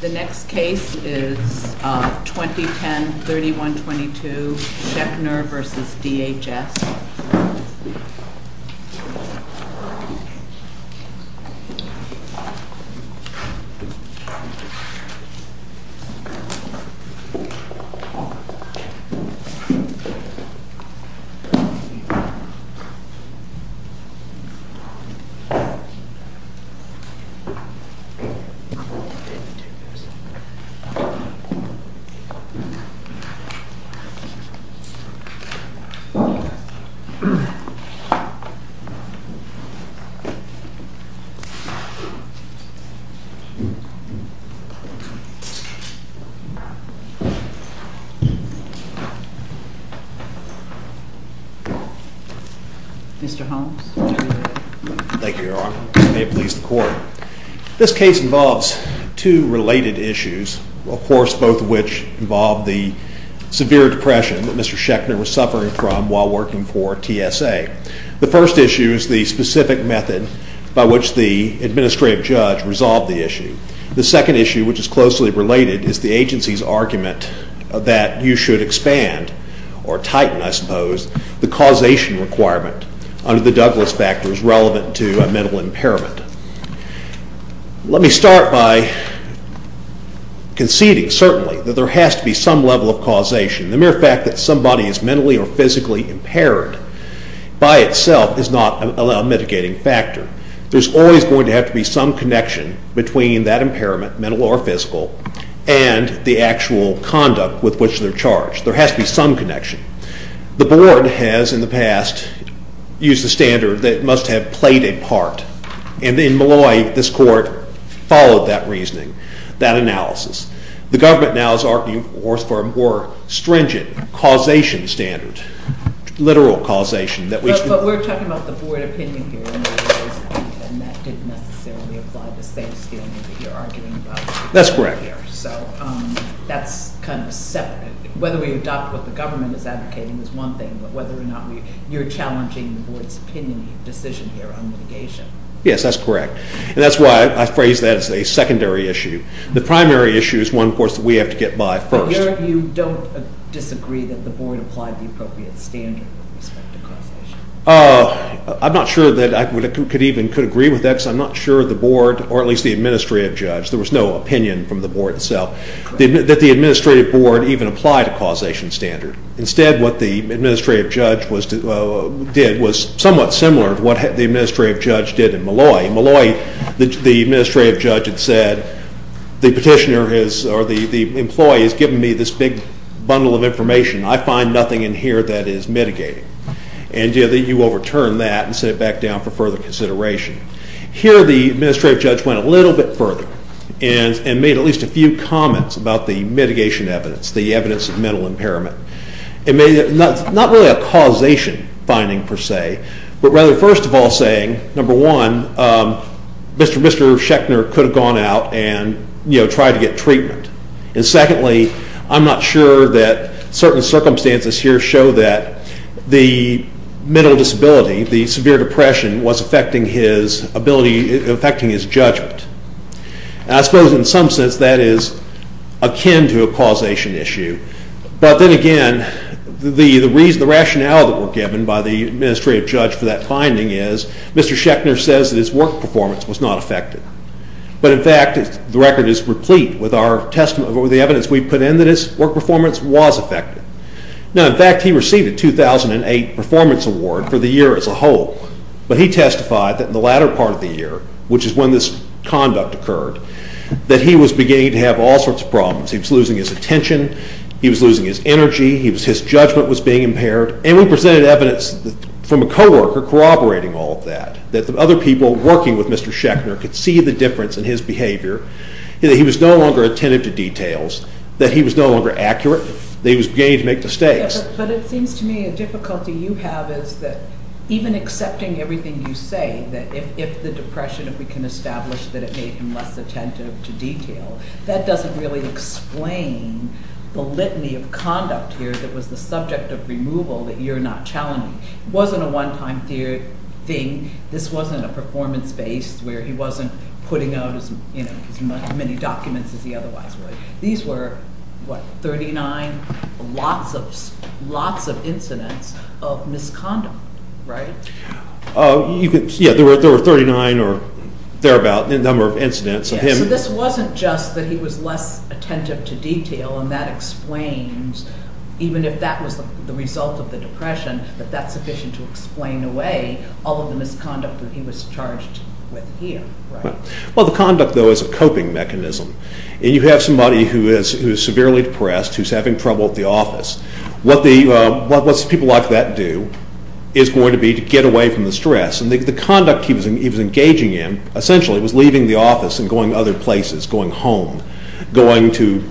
The next case is 2010-3122, Schechner v. DHS. Mr. Holmes, would you be so kind? Thank you, Your Honor. May it please the Court. This case involves two related issues, of course, both of which involve the severe depression that Mr. Schechner was suffering from while working for TSA. The first issue is the specific method by which the administrative judge resolved the issue. The second issue, which is closely related, is the agency's argument that you should expand, or tighten, I suppose, the Let me start by conceding, certainly, that there has to be some level of causation. The mere fact that somebody is mentally or physically impaired by itself is not a mitigating factor. There's always going to have to be some connection between that impairment, mental or physical, and the actual conduct with which they're charged. There has to be some connection. The Board has, in the past, used the standard that it must have played a part. And in Malloy, this Court followed that reasoning, that analysis. The Government now is arguing for a more stringent causation standard, literal causation. But we're talking about the Board opinion here, and that didn't necessarily apply to the same standard that you're arguing about. That's correct. So that's kind of separate. Whether we adopt what the Government is advocating is one thing, but whether or not you're challenging the Board's opinion, your decision here on mitigation. Yes, that's correct. And that's why I phrase that as a secondary issue. The primary issue is one, of course, that we have to get by first. But you don't disagree that the Board applied the appropriate standard with respect to causation? I'm not sure that I could even agree with that, because I'm not sure the Board, or at least the Administrative Judge, there was no opinion from the Board itself, that the Administrative Board even applied a causation standard. Instead, what the Administrative Judge did was somewhat similar to what the Administrative Judge did in Molloy. In Molloy, the Administrative Judge had said, the petitioner, or the employee, has given me this big bundle of information. I find nothing in here that is mitigating. And you overturn that and sit it back down for further consideration. Here, the Administrative Judge went a little bit further and made at least a few comments about the mitigation evidence, the evidence of mental impairment. Not really a causation finding, per se, but rather, first of all, saying, number one, Mr. Sheckner could have gone out and tried to get treatment. And secondly, I'm not sure that certain circumstances here show that the mental disability, the severe depression, was affecting his judgment. I suppose in some sense that is akin to a causation issue. But then again, the rationale that were given by the Administrative Judge for that finding is, Mr. Sheckner says that his work performance was not affected. But in fact, the record is replete with the evidence we put in that his work performance was affected. Now, in fact, he received a 2008 performance award for the year as a whole. But he testified that in the latter part of the year, which is when this conduct occurred, that he was beginning to have all sorts of problems. He was losing his attention. He was losing his energy. His judgment was being impaired. And we presented evidence from a coworker corroborating all of that, that other people working with Mr. Sheckner could see the difference in his behavior, that he was no longer attentive to details, that he was no longer accurate, that he was beginning to make mistakes. But it seems to me a difficulty you have is that even accepting everything you say, that if the depression we can establish that it made him less attentive to detail, that doesn't really explain the litany of conduct here that was the subject of removal that you're not challenging. It wasn't a one-time thing. This wasn't a performance based where he wasn't putting out as many documents as he otherwise would. These were, what, 39? Lots of incidents of misconduct, right? Yeah, there were 39 or thereabout number of incidents. So this wasn't just that he was less attentive to detail and that explains, even if that was the result of the depression, that that's sufficient to explain away all of the misconduct that he was charged with here, right? Well, the conduct, though, is a coping mechanism. And you have somebody who is severely depressed, who's having trouble at the office. What people like that do is going to be to get away from the stress. And the conduct he was engaging in, essentially, was leaving the office and going other places, going home, going to,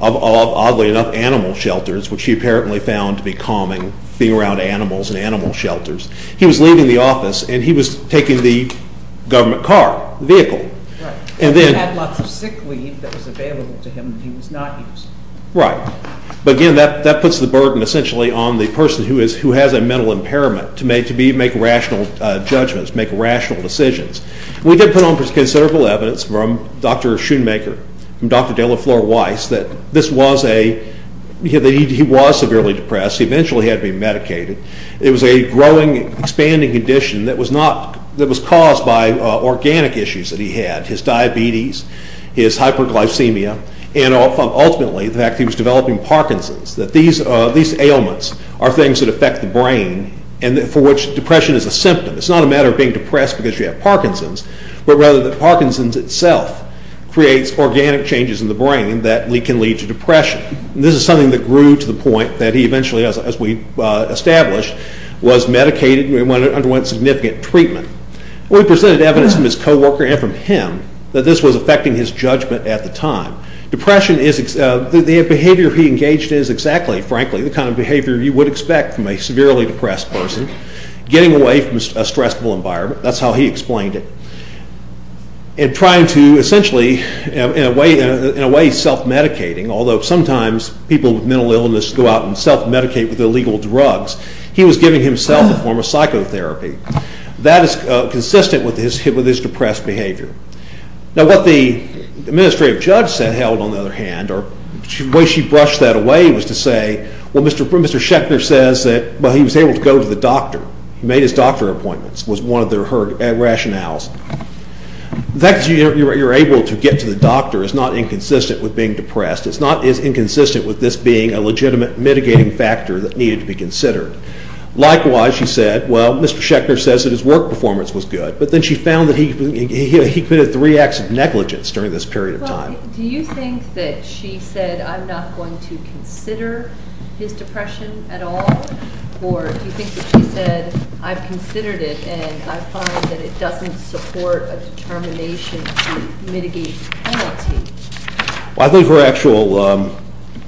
oddly enough, animal shelters, which he apparently found to be calming, being around animals and animal shelters. He was leaving the office and he was taking the government car, the vehicle. Right, and he had lots of sick leave that was available to him that he was not using. Right, but again, that puts the burden, essentially, on the person who has a mental impairment to make rational judgments, make rational decisions. We did put on considerable evidence from Dr. Schoonmaker, from Dr. Delafleur Weiss, that this was a, that he was severely depressed. He eventually had to be medicated. It was a growing, expanding condition that was not, that was caused by organic issues that he had, his diabetes, his hyperglycemia, and ultimately, the fact that he was developing Parkinson's, that these ailments are things that affect the brain and for which depression is a symptom. It's not a matter of being depressed because you have Parkinson's, but rather that Parkinson's itself creates organic changes in the brain that can lead to depression. This is something that grew to the point that he eventually, as we established, was medicated and underwent significant treatment. We presented evidence from his co-worker and from him that this was affecting his judgment at the time. Depression is, the behavior he engaged in is exactly, frankly, the kind of behavior you would expect from a severely depressed person. Getting away from a stressful environment, that's how he explained it, and trying to essentially, in a way, self-medicating, although sometimes people with mental illness go out and self-medicate with illegal drugs, he was giving himself a form of psychotherapy. That is consistent with his depressed behavior. Now what the administrative judge held, on the other hand, or the way she brushed that away was to say, well, Mr. Schechner says that he was able to go to the doctor. He made his doctor appointments, was one of her rationales. The fact that you're able to get to the doctor is not inconsistent with being depressed. It's not inconsistent with this being a legitimate mitigating factor that needed to be considered. Likewise, she said, well, Mr. Schechner says that his work performance was good, but then she found that he committed three acts of negligence during this period of time. Do you think that she said, I'm not going to consider his depression at all? Or do you think that she said, I've considered it and I find that it doesn't support a determination to mitigate the penalty? I think her actual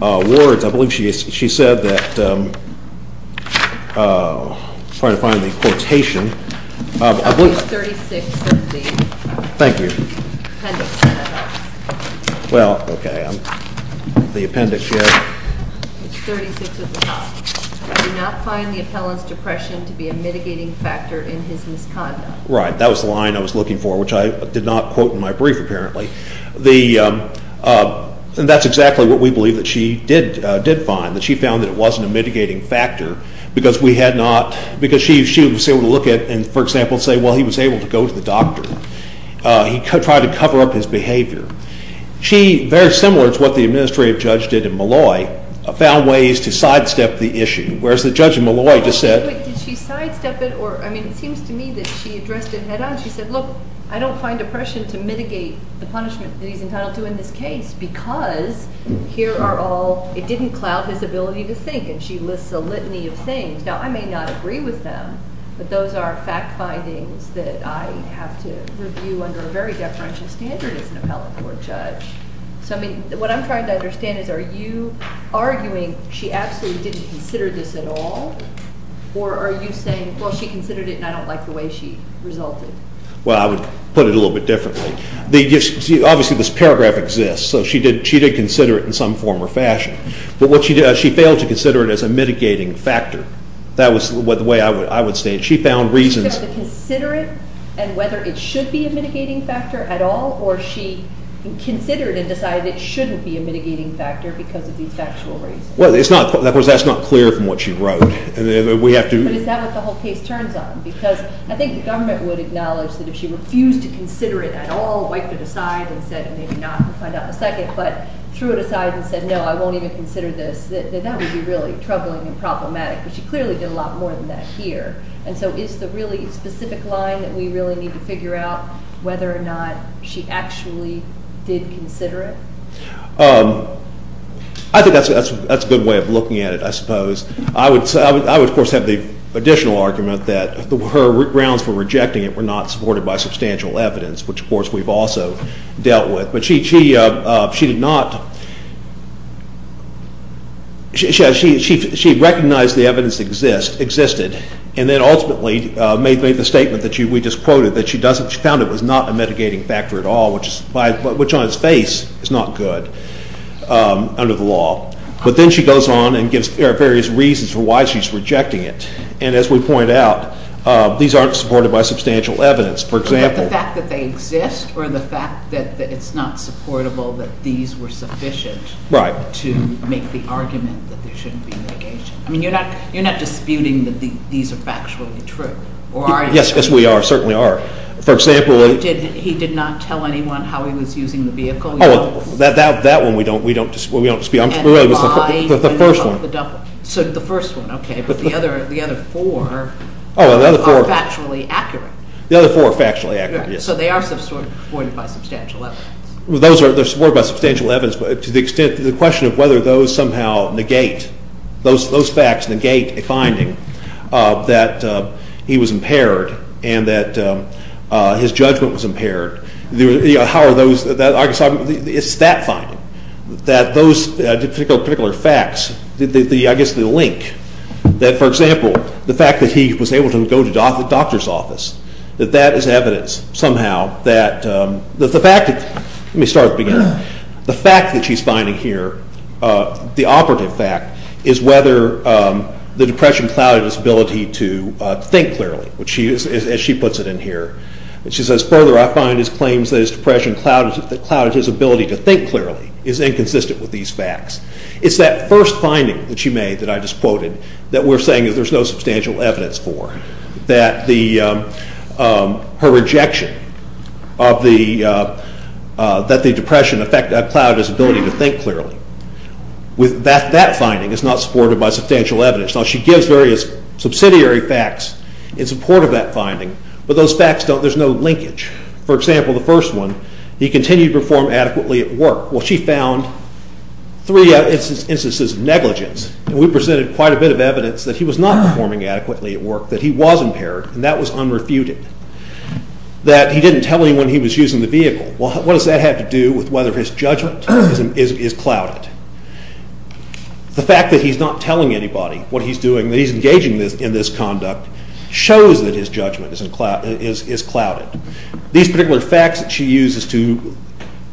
words, I believe she said that, I'm trying to find the quotation. I believe- It's 36 of the- Thank you. Appendix, if that helps. Well, okay, the appendix here. It's 36 at the top. I do not find the appellant's depression to be a mitigating factor in his misconduct. Right, that was the line I was looking for, which I did not quote in my brief, apparently. And that's exactly what we believe that she did find, that she found that it wasn't a mitigating factor because she was able to look at and, for example, say, well, he was able to go to the doctor. He tried to cover up his behavior. She, very similar to what the administrative judge did in Malloy, found ways to sidestep the issue, whereas the judge in Malloy just said- Wait, did she sidestep it? I mean, it seems to me that she addressed it head on. She said, look, I don't find depression to mitigate the punishment that he's entitled to in this case because here are all- It didn't cloud his ability to think. And she lists a litany of things. Now, I may not agree with them, but those are fact findings that I have to review under a very deferential standard as an appellate court judge. So, I mean, what I'm trying to understand is are you arguing she absolutely didn't consider this at all or are you saying, well, she considered it and I don't like the way she resulted? Well, I would put it a little bit differently. Obviously, this paragraph exists, so she did consider it in some form or fashion. But what she did, she failed to consider it as a mitigating factor. That was the way I would state it. She found reasons- She failed to consider it and whether it should be a mitigating factor at all or she considered it and decided it shouldn't be a mitigating factor because of these factual reasons. Well, that's not clear from what she wrote. We have to- But is that what the whole case turns on? Because I think the government would acknowledge that if she refused to consider it at all wiped it aside and said, maybe not, we'll find out in a second, but threw it aside and said, no, I won't even consider this, that that would be really troubling and problematic because she clearly did a lot more than that here. And so is the really specific line that we really need to figure out whether or not she actually did consider it? I think that's a good way of looking at it, I suppose. I would, of course, have the additional argument that her grounds for rejecting it were not supported by substantial evidence, which, of course, we've also dealt with. But she did not- She recognized the evidence existed and then ultimately made the statement that we just quoted, that she found it was not a mitigating factor at all, which on its face is not good under the law. But then she goes on and gives various reasons for why she's rejecting it. And as we pointed out, these aren't supported by substantial evidence. For example- But the fact that they exist or the fact that it's not supportable that these were sufficient- Right. To make the argument that there shouldn't be mitigation. I mean, you're not disputing that these are factually true, or are you? Yes, we are, certainly are. For example- He did not tell anyone how he was using the vehicle? Oh, that one we don't dispute. And why- The first one. So the first one, okay. But the other four are factually accurate. The other four are factually accurate, yes. So they are supported by substantial evidence. Those are supported by substantial evidence to the extent that the question of whether those somehow negate- those facts negate a finding that he was impaired and that his judgment was impaired. How are those- It's that finding, that those particular facts, I guess the link that, for example, the fact that he was able to go to the doctor's office, that that is evidence somehow that the fact that- Let me start at the beginning. The fact that she's finding here, the operative fact, is whether the depression clouded his ability to think clearly, as she puts it in here. And she says, Further, I find his claims that his depression clouded his ability to think clearly is inconsistent with these facts. It's that first finding that she made that I just quoted that we're saying that there's no substantial evidence for, that her rejection of the- that the depression clouded his ability to think clearly. That finding is not supported by substantial evidence. Now, she gives various subsidiary facts in support of that finding, but those facts don't- There's no linkage. For example, the first one, He continued to perform adequately at work. Well, she found three instances of negligence. And we presented quite a bit of evidence that he was not performing adequately at work, that he was impaired, and that was unrefuted. That he didn't tell anyone he was using the vehicle. Well, what does that have to do with whether his judgment is clouded? The fact that he's not telling anybody what he's doing, that he's engaging in this conduct, shows that his judgment is clouded. These particular facts that she uses to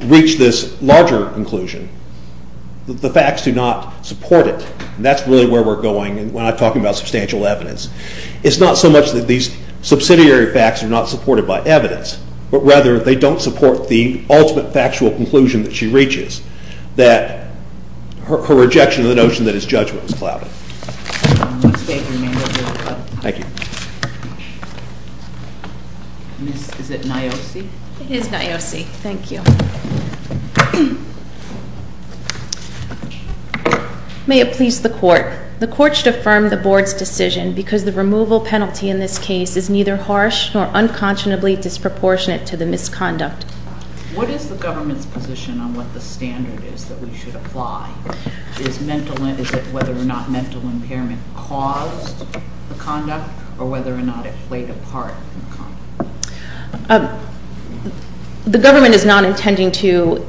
reach this larger conclusion, the facts do not support it. And that's really where we're going when I'm talking about substantial evidence. It's not so much that these subsidiary facts are not supported by evidence, but rather they don't support the ultimate factual conclusion that she reaches, that her rejection of the notion that his judgment was clouded. Thank you. Is it Niosi? It is Niosi. Thank you. May it please the Court. The Court should affirm the Board's decision because the removal penalty in this case is neither harsh nor unconscionably disproportionate to the misconduct. What is the government's position on what the standard is that we should apply? Is it whether or not mental impairment caused the conduct or whether or not it played a part in the conduct? The government is not intending to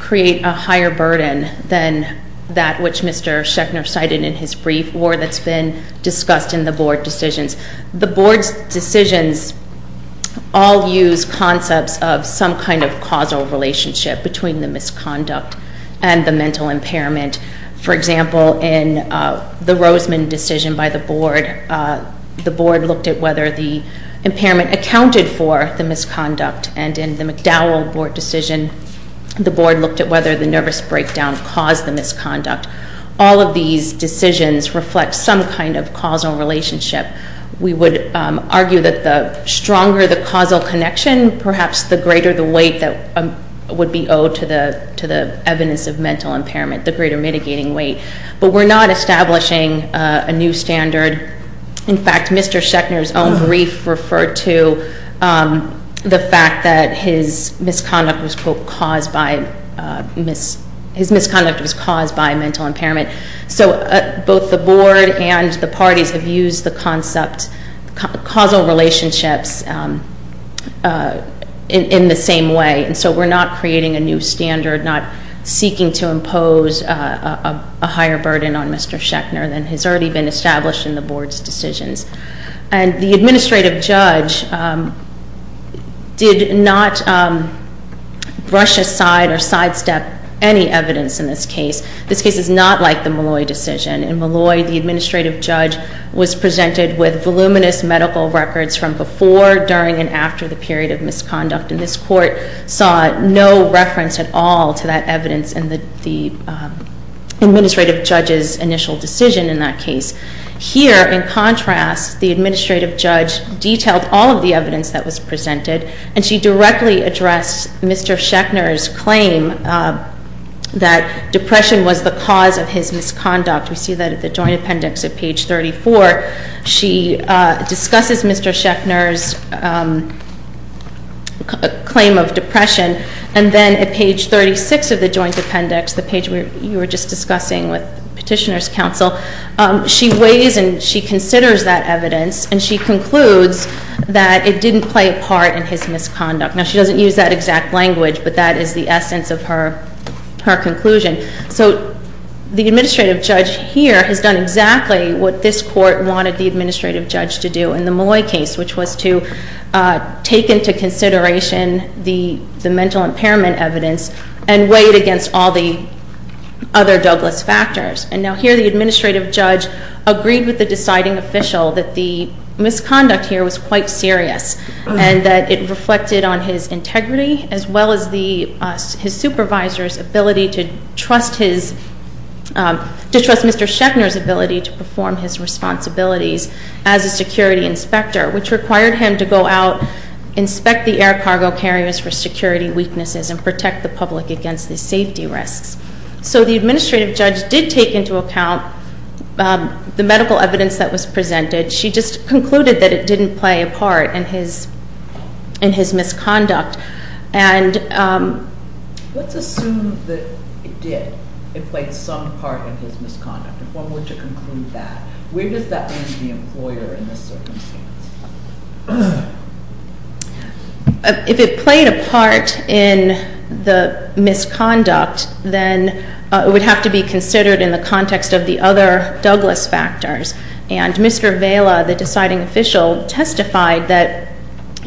create a higher burden than that which Mr. Schechner cited in his brief or that's been discussed in the Board decisions. The Board's decisions all use concepts of some kind of causal relationship between the misconduct and the mental impairment. For example, in the Roseman decision by the Board, the Board looked at whether the impairment accounted for the misconduct and in the McDowell Board decision, the Board looked at whether the nervous breakdown caused the misconduct. All of these decisions reflect some kind of causal relationship. We would argue that the stronger the causal connection, perhaps the greater the weight that would be owed to the evidence of mental impairment, the greater mitigating weight. But we're not establishing a new standard. In fact, Mr. Schechner's own brief referred to the fact that his misconduct was caused by his misconduct was caused by mental impairment. Both the Board and the parties have used the concept of causal relationships in the same way. And so we're not creating a new standard, not seeking to impose a higher burden on Mr. Schechner than has already been established in the Board's decisions. And the administrative judge did not brush aside or sidestep any evidence in this case. This case is not like the Molloy decision. In Molloy, the administrative judge was presented with voluminous medical records from before, during, and after the period of misconduct. And this Court saw no reference at all to that evidence in the administrative judge's initial decision in that case. Here, in contrast, the administrative judge detailed all of the evidence that was presented and she directly addressed Mr. Schechner's claim that depression was the cause of his misconduct. We see that at the Joint Appendix at page 34. She discusses Mr. Schechner's claim of depression and then at page 36 of the Joint Appendix, the page you were just discussing with Petitioner's Counsel, she weighs and she considers that evidence and she concludes that it didn't play a part in his misconduct. Now, she doesn't use that exact language, but that is the essence of her conclusion. So, the administrative judge here has done exactly what this Court wanted the administrative judge to do in the Malloy case, which was to take into consideration the mental impairment evidence and weigh it against all the other Douglas factors. And now here, the administrative judge agreed with the deciding official that the misconduct here was quite serious and that it reflected on his integrity as well as his supervisor's ability to trust his, to trust Mr. Schechner's ability to perform his responsibilities as a security inspector, which required him to go out, inspect the air cargo carriers for security weaknesses and protect the public against the safety risks. So, the administrative judge did take into account the medical evidence that was presented. She just concluded that it didn't play a part in his misconduct. And... Let's assume that it did. It played some part in his misconduct. If one were to conclude that, where does that leave the employer in this circumstance? If it played a part in the misconduct, then it would have to be considered in the context of the other Douglas factors. And Mr. Vaila, the deciding official, testified that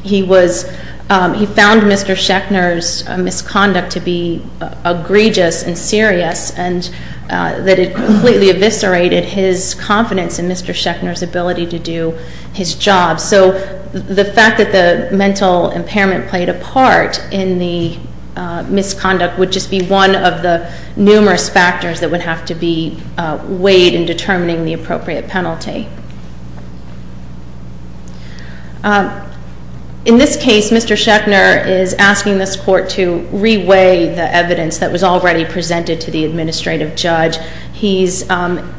he was, he found Mr. Schechner's misconduct to be egregious and serious and that it completely eviscerated his confidence in Mr. Schechner's ability to do his job. So, the fact that the mental impairment played a part in the misconduct would just be one of the numerous factors that would have to be weighed in determining the appropriate penalty. In this case, Mr. Schechner is asking this court to re-weigh the evidence that was already presented to the administrative judge. He's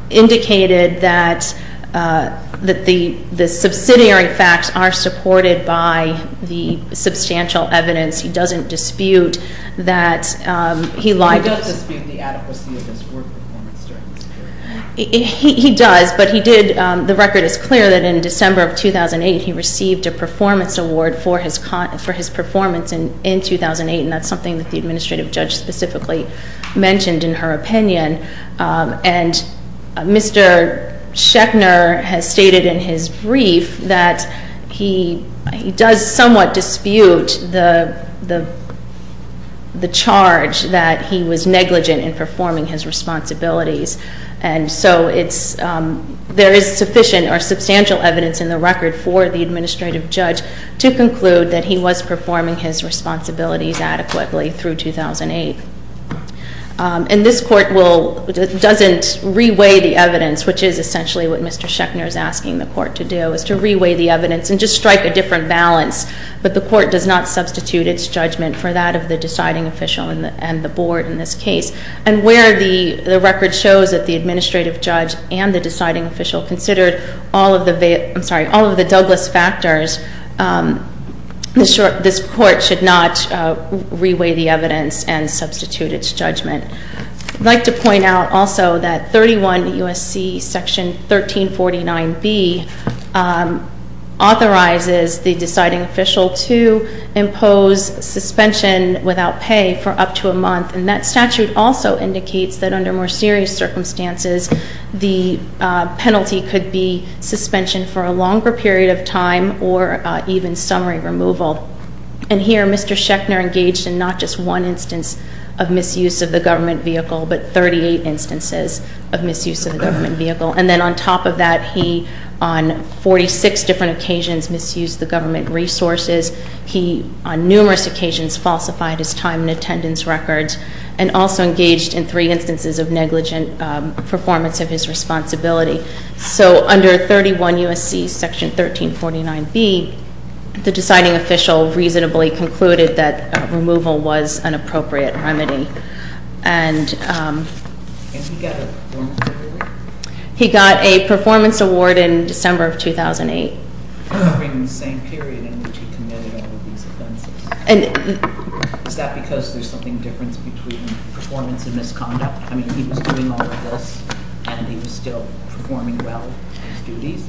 indicated that the subsidiary facts are supported by the substantial evidence. He doesn't dispute that he lied... He does dispute the adequacy of his work performance during this period. He does, but he did the record is clear that in December of 2008 he received a performance award for his performance in 2008 and that's something that the administrative judge specifically mentioned in her opinion and Mr. Schechner has stated in his brief that he does somewhat dispute the charge that he was negligent in performing his responsibilities and so it's, there is sufficient or substantial evidence in the record for the administrative judge to conclude that he was performing his responsibilities adequately through 2008. And this court will, doesn't re-weigh the evidence, which is essentially what Mr. Schechner is asking the court to do, is to re-weigh the evidence and just strike a different balance, but the court does not substitute its judgment for that of the deciding official and the board in this case and where the record shows that the administrative judge and the deciding official considered all of the, I'm sorry, all of the Douglas factors this court should not re-weigh the evidence and substitute its judgment. I'd like to point out also that 31 U.S.C. section 1349B authorizes the deciding official to impose suspension without pay for up to a month and that statute also indicates that under more serious circumstances, the penalty could be suspension for a longer period of time or even summary removal. And here Mr. Schechner engaged in not just one instance of misuse of the government vehicle, but 38 instances of misuse of the government vehicle. And then on top of that he, on 46 different occasions, misused the government resources. He, on numerous occasions, falsified his time and attendance records and also engaged in three instances of negligent performance of his responsibility. So under 31 U.S.C. section 1349B the deciding official reasonably concluded that removal was an appropriate remedy. And Can he get a performance award? He got a performance award in December of 2008. During the same period in which he committed all of these offenses. Is that because there's something between performance and misconduct? I mean, he was doing all of this and he was still performing well in his duties?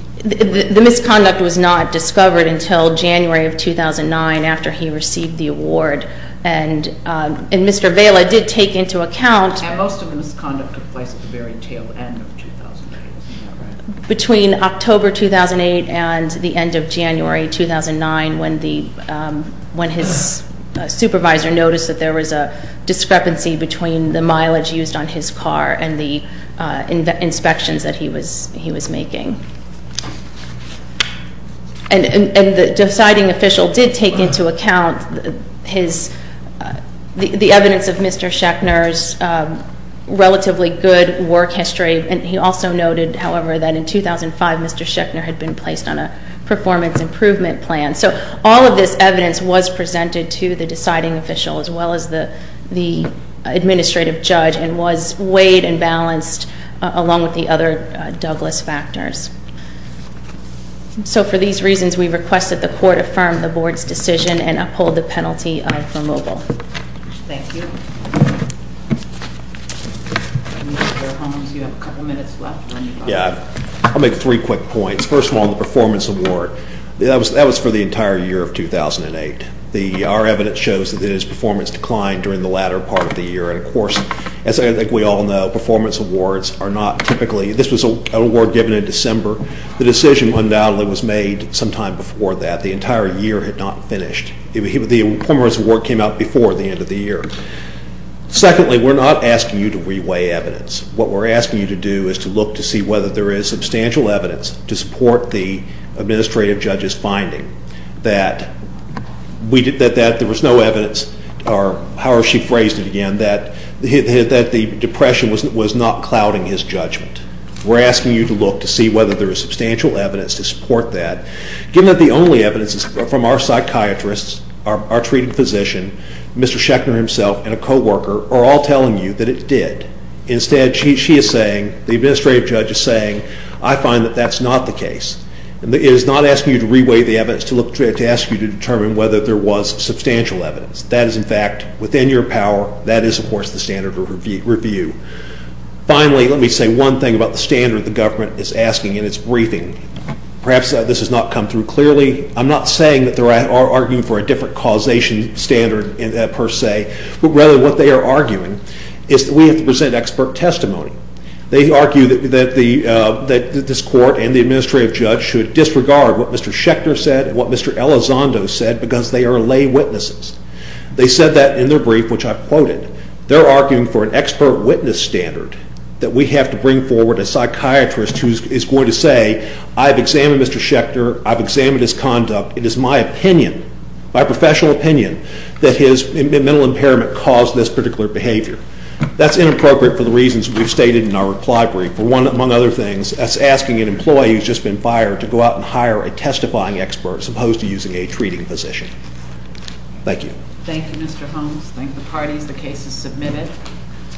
The misconduct was not discovered until January of 2009 after he received the award. And Mr. Vaila did take into account... And most of the misconduct took place at the very tail end of 2008. Between October 2008 and the end of January 2009 when the when his supervisor noticed that there was a discrepancy between the mileage used on his car and the inspections that he was making. And the deciding official did take into account his the evidence of Mr. Schechner's relatively good work history and he also noted, however, that in 2005 Mr. Schechner had been placed on a performance improvement plan. So all of this evidence was presented to the deciding official as well as the the administrative judge and was weighed and balanced along with the other Douglas factors. So for these reasons we request that the court affirm the board's decision and uphold the penalty for mobile. Thank you. Yeah. I'll make three quick points. First of all, the performance award. That was for the entire year of 2008. Our evidence shows that his performance declined during the latter part of the year and of course as I think we all know, performance awards are not typically, this was an award given in December. The decision undoubtedly was made sometime before that. The entire year had not finished. The performance award came out before the end of the year. Secondly, we're not asking you to re-weigh evidence. What we're asking you to do is to look to see whether there is substantial evidence to support the administrative judge's finding that there was no evidence or however she phrased it again, that the depression was not clouding his judgment. We're asking you to look to see whether there is substantial evidence to support that. Given that the only evidence is from our psychiatrists, our treating physician, Mr. Schechner himself and a co-worker are all telling you that it did. Instead she is saying, the administrative judge is saying, I find that that's not the case. It is not asking you to re-weigh the evidence to look to ask you to determine whether there was substantial evidence. That is in fact within your power. That is of course the standard of review. Finally, let me say one thing about the standard the government is asking in its briefing. Perhaps this has not come through clearly. I'm not saying that they are arguing for a different causation standard per se but rather what they are arguing is that we have to present expert testimony. They argue that this court and the administrative judge should disregard what Mr. Schechner said and what Mr. Elizondo said because they are lay witnesses. They said that in their brief which I quoted. They are arguing for an expert witness standard that we have to bring forward a psychiatrist who is going to say, I've examined Mr. Schechner I've examined his conduct. It is my opinion, my professional opinion that his mental impairment caused this particular behavior. That's inappropriate for the reasons we've stated in our reply brief. Among other things, that's asking an employee who has just been fired to go out and hire a testifying expert as opposed to using a treating physician. Thank you. Thank you Mr. Holmes. Thank the parties. The case is submitted.